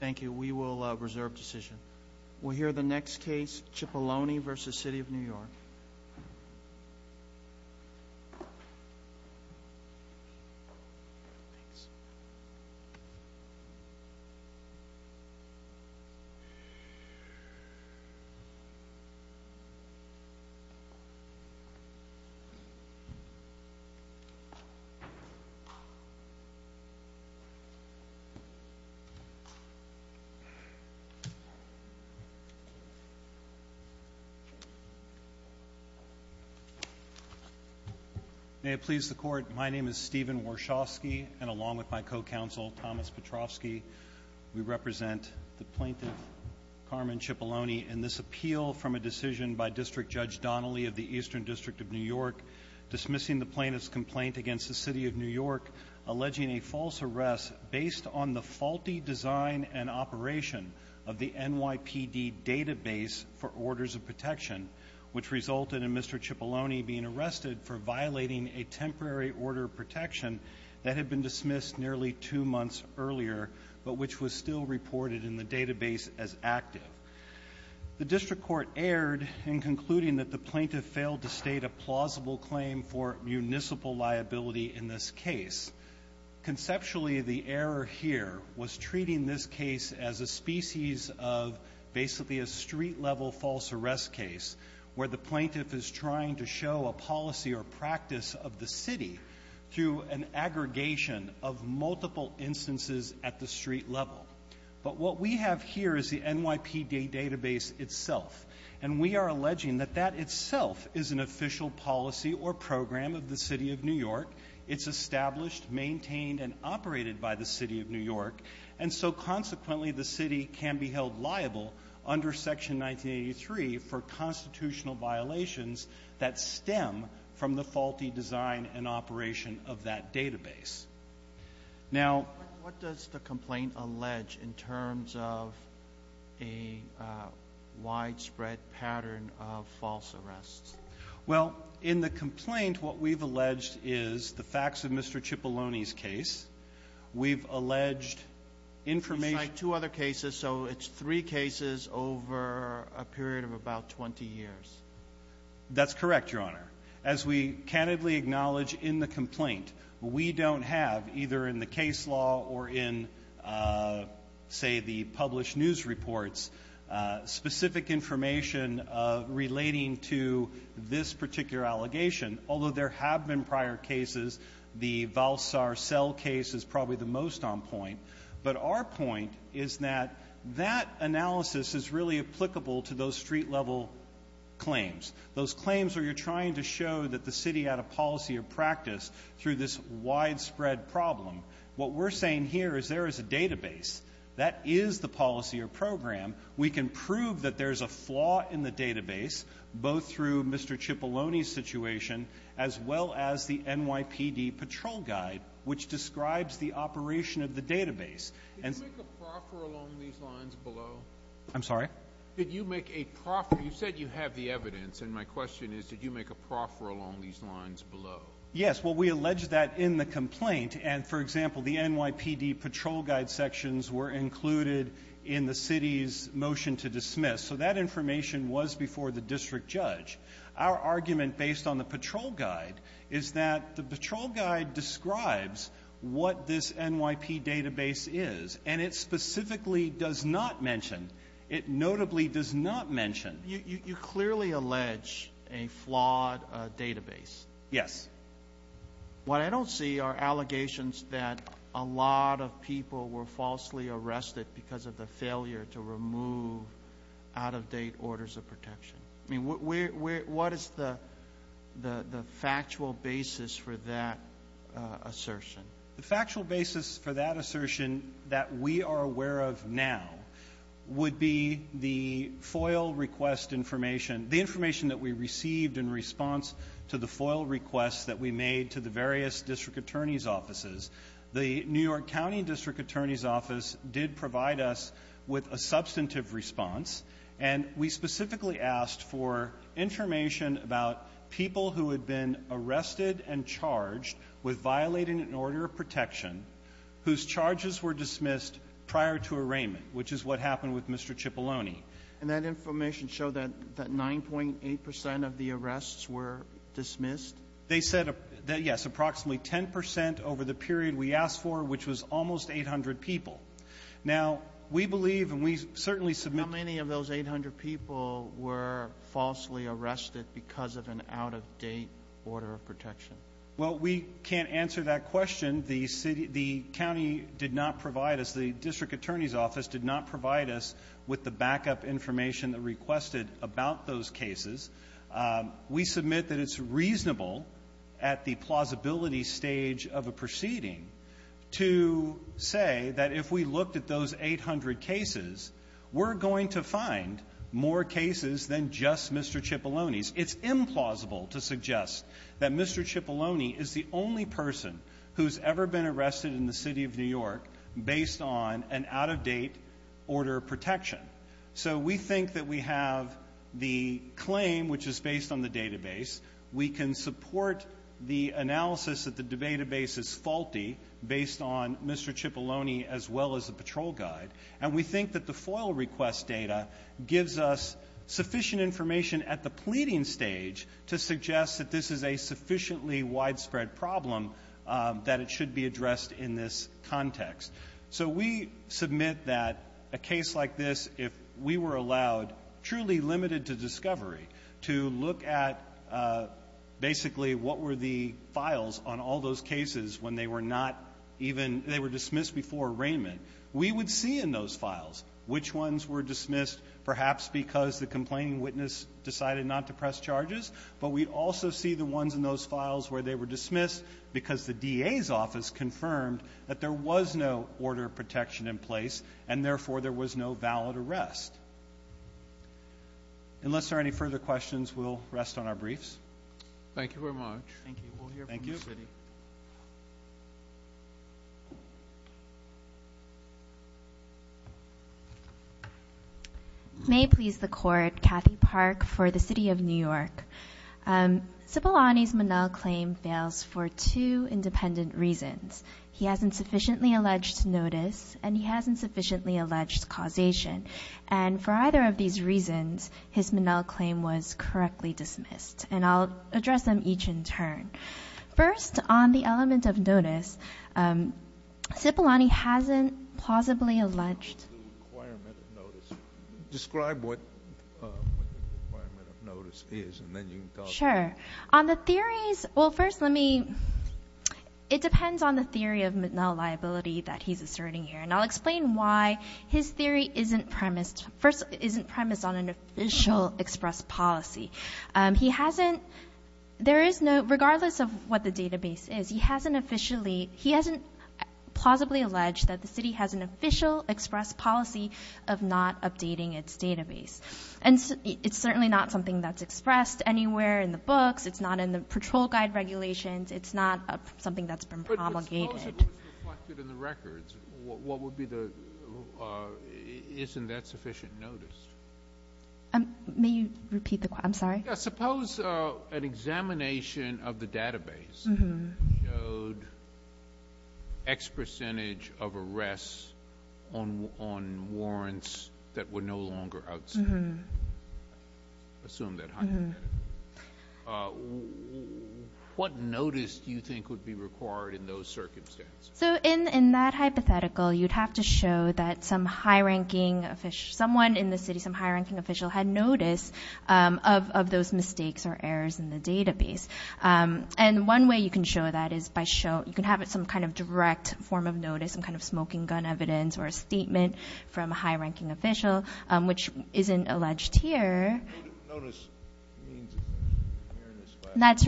Thank you. We will reserve decision. We'll hear the next case, Cipolloni v. City of New York. May it please the Court, my name is Stephen Warshawski, and along with my co-counsel, Thomas Petrovsky, we represent the plaintiff, Carmen Cipolloni, in this appeal from a decision by District Judge Donnelly of the Eastern District of New York, dismissing the plaintiff's complaint against the City of New York, alleging a false arrest based on the faulty design and operation of the NYPD database for orders of protection, which resulted in Mr. Cipolloni being arrested for violating a temporary order of protection that had been dismissed nearly two months earlier, but which was still reported in the database as active. The District Court erred in concluding that the plaintiff failed to state a plausible claim for municipal liability in this case. Conceptually, the error here was treating this case as a species of basically a street-level false arrest case, where the plaintiff is trying to show a policy or practice of the City through an aggregation of multiple instances at the street level. But what we have here is the NYPD database itself, and we are alleging that that itself is an official policy or program of the City of New York. It's established, maintained, and operated by the City of New York, and so consequently the City can be held liable under Section 1983 for constitutional violations that stem from the faulty design and operation of that database. Now, what does the complaint allege in terms of a widespread pattern of false arrests? Well, in the complaint, what we've alleged is the facts of Mr. Cipolloni's case. We've alleged information It's like two other cases, so it's three cases over a period of about 20 years. That's correct, Your Honor. As we candidly acknowledge in the complaint, we don't have, either in the case law or in, say, the published to this particular allegation, although there have been prior cases. The Valsar Cell case is probably the most on point. But our point is that that analysis is really applicable to those street-level claims, those claims where you're trying to show that the City had a policy or practice through this widespread problem. What we're saying here is there is a database. That is the policy or program. We can prove that there's a flaw in the database, both through Mr. Cipolloni's situation, as well as the NYPD Patrol Guide, which describes the operation of the database. Did you make a proffer along these lines below? I'm sorry? Did you make a proffer? You said you have the evidence. And my question is, did you make a proffer along these lines below? Yes. Well, we allege that in the complaint. And for example, the NYPD Patrol Guide sections were included in the City's motion to dismiss. So that information was before the district judge. Our argument, based on the Patrol Guide, is that the Patrol Guide describes what this NYPD database is, and it specifically does not mention, it notably does not mention. You clearly allege a flawed database. Yes. What I don't see are allegations that a lot of people were falsely arrested because of the failure to remove out-of-date orders of protection. I mean, what is the factual basis for that assertion? The factual basis for that assertion that we are aware of now would be the FOIL request information. The information that we received in response to the FOIL requests that we made to the various district attorney's offices. The New York County District Attorney's Office did provide us with a substantive response. And we specifically asked for information about people who had been arrested and charged with violating an order of protection whose charges were dismissed prior to arraignment, which is what happened with Mr. Cipollone. And that information showed that 9.8 percent of the arrests were dismissed? They said, yes, approximately 10 percent over the period we asked for, which was almost 800 people. Now, we believe, and we certainly submit How many of those 800 people were falsely arrested because of an out-of-date order of protection? Well, we can't answer that question. The county did not provide us, the district attorney's office did not provide us with the backup information that requested about those cases. We submit that it's reasonable at the plausibility stage of a proceeding to say that if we looked at those 800 cases, we're going to find more cases than just Mr. Cipollone's. It's implausible to suggest that Mr. Cipollone is the only person who's ever been arrested in the City of New York based on an out-of-date order of protection. So we think that we have the we can support the analysis that the debatabase is faulty based on Mr. Cipollone as well as the patrol guide. And we think that the FOIL request data gives us sufficient information at the pleading stage to suggest that this is a sufficiently widespread problem that it should be addressed in this context. So we submit that a case like this, if we were allowed, truly limited to discovery, to look at basically what were the files on all those cases when they were not even, they were dismissed before arraignment, we would see in those files which ones were dismissed perhaps because the complaining witness decided not to press charges, but we'd also see the ones in those files where they were dismissed because the DA's office confirmed that there was no order of protection in place and therefore there was no valid arrest. Unless there are any further questions, we'll rest on our briefs. Thank you very much. Thank you. We'll hear from the City. May it please the Court, Kathy Park for the City of New York. Cipollone's Monell claim fails for two independent reasons. He has insufficiently alleged notice and he has insufficiently alleged causation. And for either of these reasons, his Monell claim was correctly dismissed. And I'll address them each in turn. First, on the element of notice, Cipollone hasn't plausibly alleged. Describe what the requirement of notice is and then you can talk about it. Sure. On the theories, well first let me, it depends on the theory of Monell liability that he's asserting here. And I'll explain why his theory isn't premised, first isn't premised on an official express policy. He hasn't, there is no, regardless of what the database is, he hasn't officially, he hasn't plausibly alleged that the City has an official express policy of not updating its database. And it's certainly not something that's expressed anywhere in the books, it's not in the patrol guide regulations, it's not something that's been promulgated. Suppose it was reflected in the records, what would be the, isn't that sufficient notice? May you repeat the question, I'm sorry? Suppose an examination of the database showed X percentage of arrests on warrants that were no longer outstanding. Assume that. What notice do you think would be required in those circuits of circumstance? So in that hypothetical, you'd have to show that some high-ranking, someone in the City, some high-ranking official had notice of those mistakes or errors in the database. And one way you can show that is by showing, you can have some kind of direct form of notice, some kind of smoking gun evidence or a statement from a high-ranking official, which isn't alleged here. Notice means awareness. And that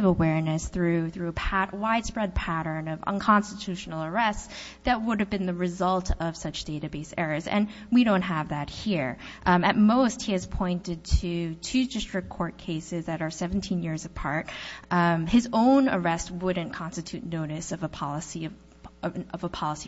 awareness through a widespread pattern of unconstitutional arrests that would have been the result of such database errors. And we don't have that here. At most, he has pointed to two district court cases that are 17 years apart. His own arrest wouldn't constitute notice of a policy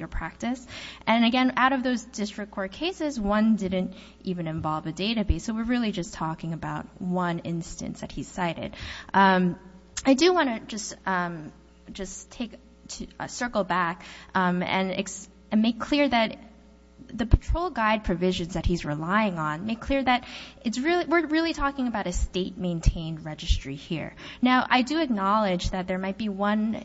or practice. And again, out of those district court cases, one didn't even involve a database. So we're really just talking about one instance that he cited. I do want to just take a circle back and make clear that the patrol guide provisions that he's relying on, make clear that we're really talking about a state-maintained registry here. Now, I do acknowledge that there might be one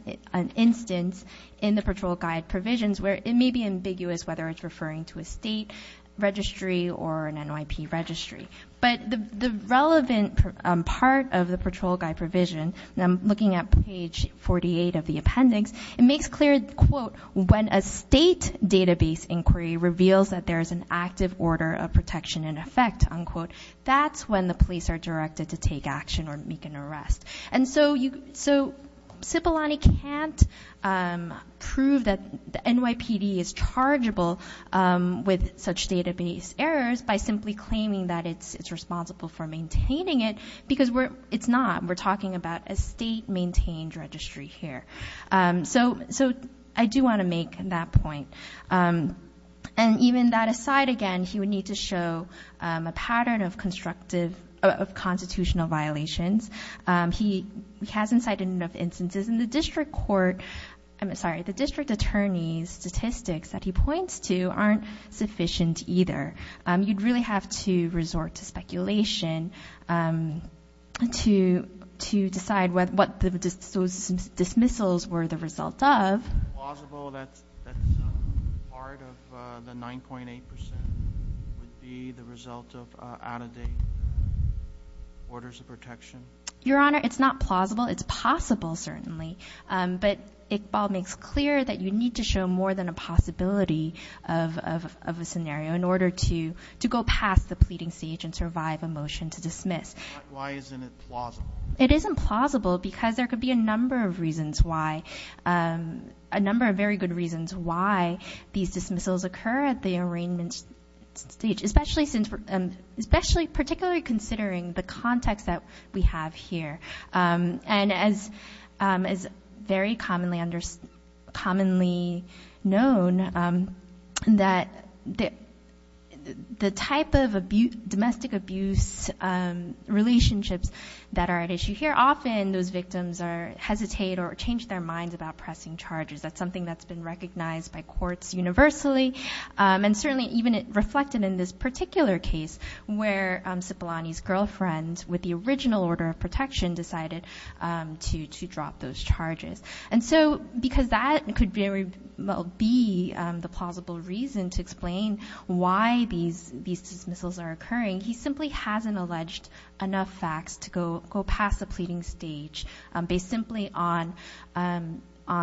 instance in the patrol guide provisions where it may be ambiguous whether it's referring to a state registry or an NYP registry. But the relevant part of the patrol guide provision, looking at page 48 of the appendix, it makes clear, quote, when a state database inquiry reveals that there is an active order of protection in effect, unquote, that's when the police are directed to take action or make an arrest. And so Cipollone can't prove that the NYPD is chargeable with such database errors by simply claiming that it's responsible for maintaining it, because it's not. We're talking about a state-maintained registry here. So I do want to make that point. And even that aside again, he would need to show a pattern of constitutional violations. He hasn't cited enough instances. And the district court, I'm sorry, the district attorney's statistics that he points to aren't sufficient either. You'd really have to resort to speculation to decide what those dismissals were the result of. Is it plausible that part of the 9.8% would be the result of out-of-date orders of protection? Your Honor, it's not plausible. It's possible, certainly. But Iqbal makes clear that you of a scenario in order to go past the pleading stage and survive a motion to dismiss. Why isn't it plausible? It isn't plausible because there could be a number of reasons why, a number of very good reasons why these dismissals occur at the arraignment stage, especially particularly considering the context that we have here. And as very commonly known, the type of domestic abuse relationships that are at issue here, often those victims hesitate or change their minds about pressing charges. That's something that's been recognized by courts universally. And certainly even reflected in this particular case where Cipollone's girlfriend, with the original order of protection, decided to drop those charges. And so because that could be the plausible reason to explain why these dismissals are occurring, he simply hasn't alleged enough facts to go past the pleading stage based simply on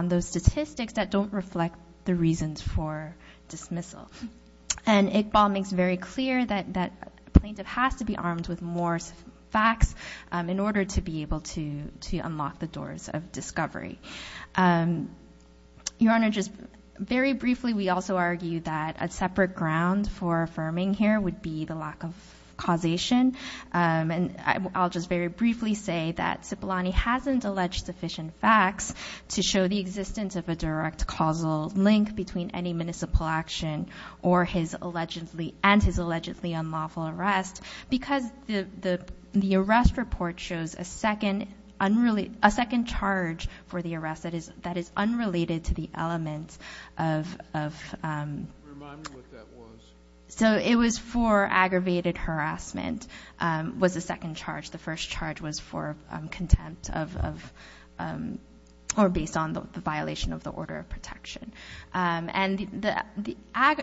those statistics that don't reflect the reasons for dismissal. And Iqbal makes very clear that a plaintiff has to be armed with more facts in order to be able to unlock the doors of discovery. Your Honor, just very briefly, we also argue that a separate ground for affirming here would be the lack of causation. And I'll just very briefly say that Cipollone hasn't a direct causal link between any municipal action and his allegedly unlawful arrest, because the arrest report shows a second charge for the arrest that is unrelated to the element of... Remind me what that was. So it was for aggravated harassment, was the second charge. The first charge was for contempt of... Or based on the violation of the order of protection. And the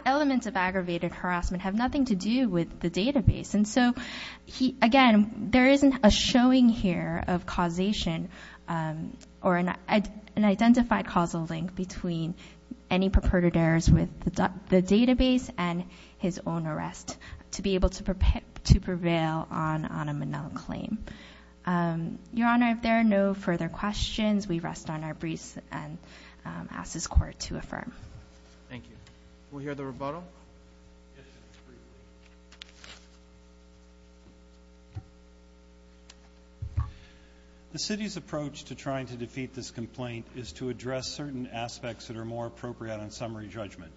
elements of aggravated harassment have nothing to do with the database. And so, again, there isn't a showing here of causation or an identified causal link between any purported errors with the database and his own arrest to be able to prevail on a Manila claim. Your Honor, if there are no further questions, we rest on our breaths and ask this Court to affirm. Thank you. We'll hear the rebuttal. The city's approach to trying to defeat this complaint is to address certain aspects that are more appropriate on summary judgment.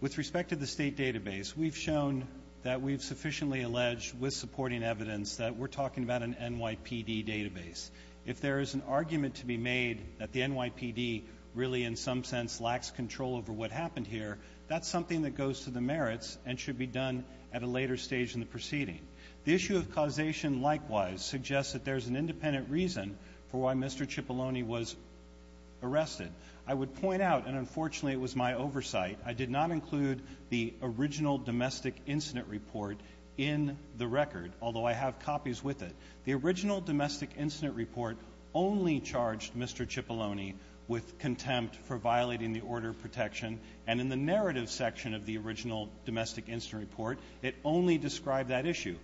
With respect to the state database, we've shown that we've sufficiently alleged with supporting evidence that we're talking about an NYPD database. If there is an argument to be made that the NYPD really in some sense lacks control over what happened here, that's something that goes to the merits and should be done at a later stage in the proceeding. The issue of causation likewise suggests that there's an independent reason for why Mr. Cipollone was arrested. I would point out, and unfortunately it was my oversight, I did not include the original domestic incident report in the record, although I have copies with it. The original domestic incident report only charged Mr. Cipollone with contempt for violating the order of protection, and in the narrative section of the original domestic incident report, it only described that issue.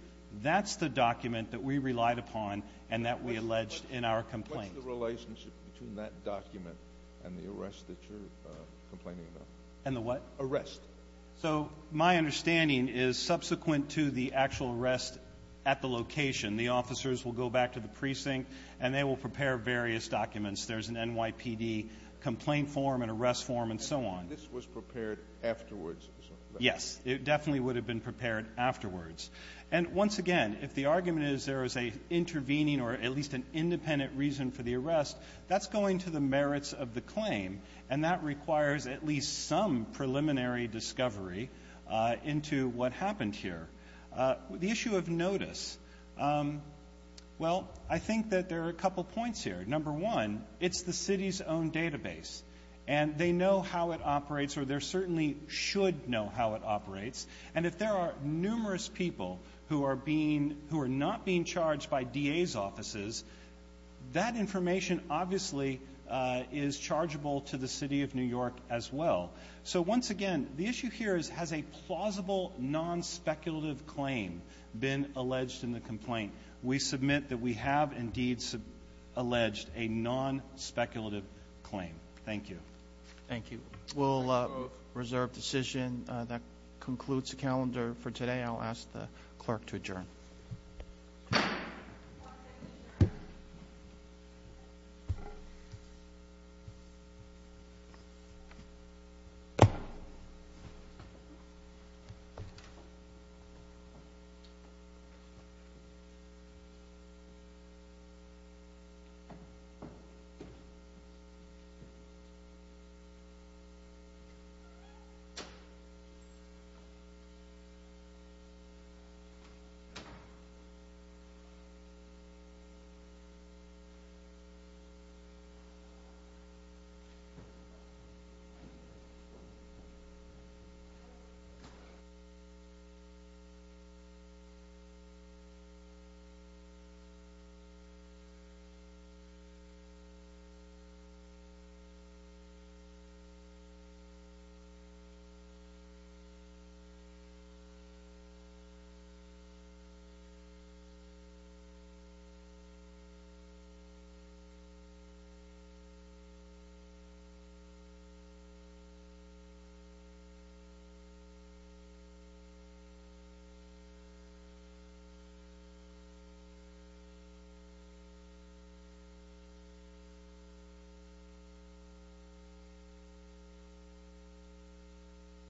That's the document that we relied upon and that we alleged in our complaint. What's the relationship between that document and the arrest that you're complaining about? And the what? Arrest. So my understanding is subsequent to the actual arrest at the location, the officers will go back to the precinct and they will prepare various documents. There's an NYPD complaint form, an arrest form, and so on. And this was prepared afterwards. Yes. It definitely would have been prepared afterwards. And once again, if the argument is there is an intervening or at least an independent reason for the arrest, that's going to the merits of the claim, and that requires at least some preliminary discovery into what happened here. The issue of notice, well, I think that there are a couple points here. Number one, it's the city's own database, and they know how it operates, or they certainly should know how it operates. And if there are numerous people who are being, who are not being charged by DA's offices, that information obviously is chargeable to the city of New York as well. So once again, the issue here is, has a plausible non-speculative claim been alleged in the complaint? We submit that we have indeed alleged a non-speculative claim. Thank you. Thank you. We'll reserve decision. That concludes the calendar for today. I'll ask the clerk to adjourn. Thank you.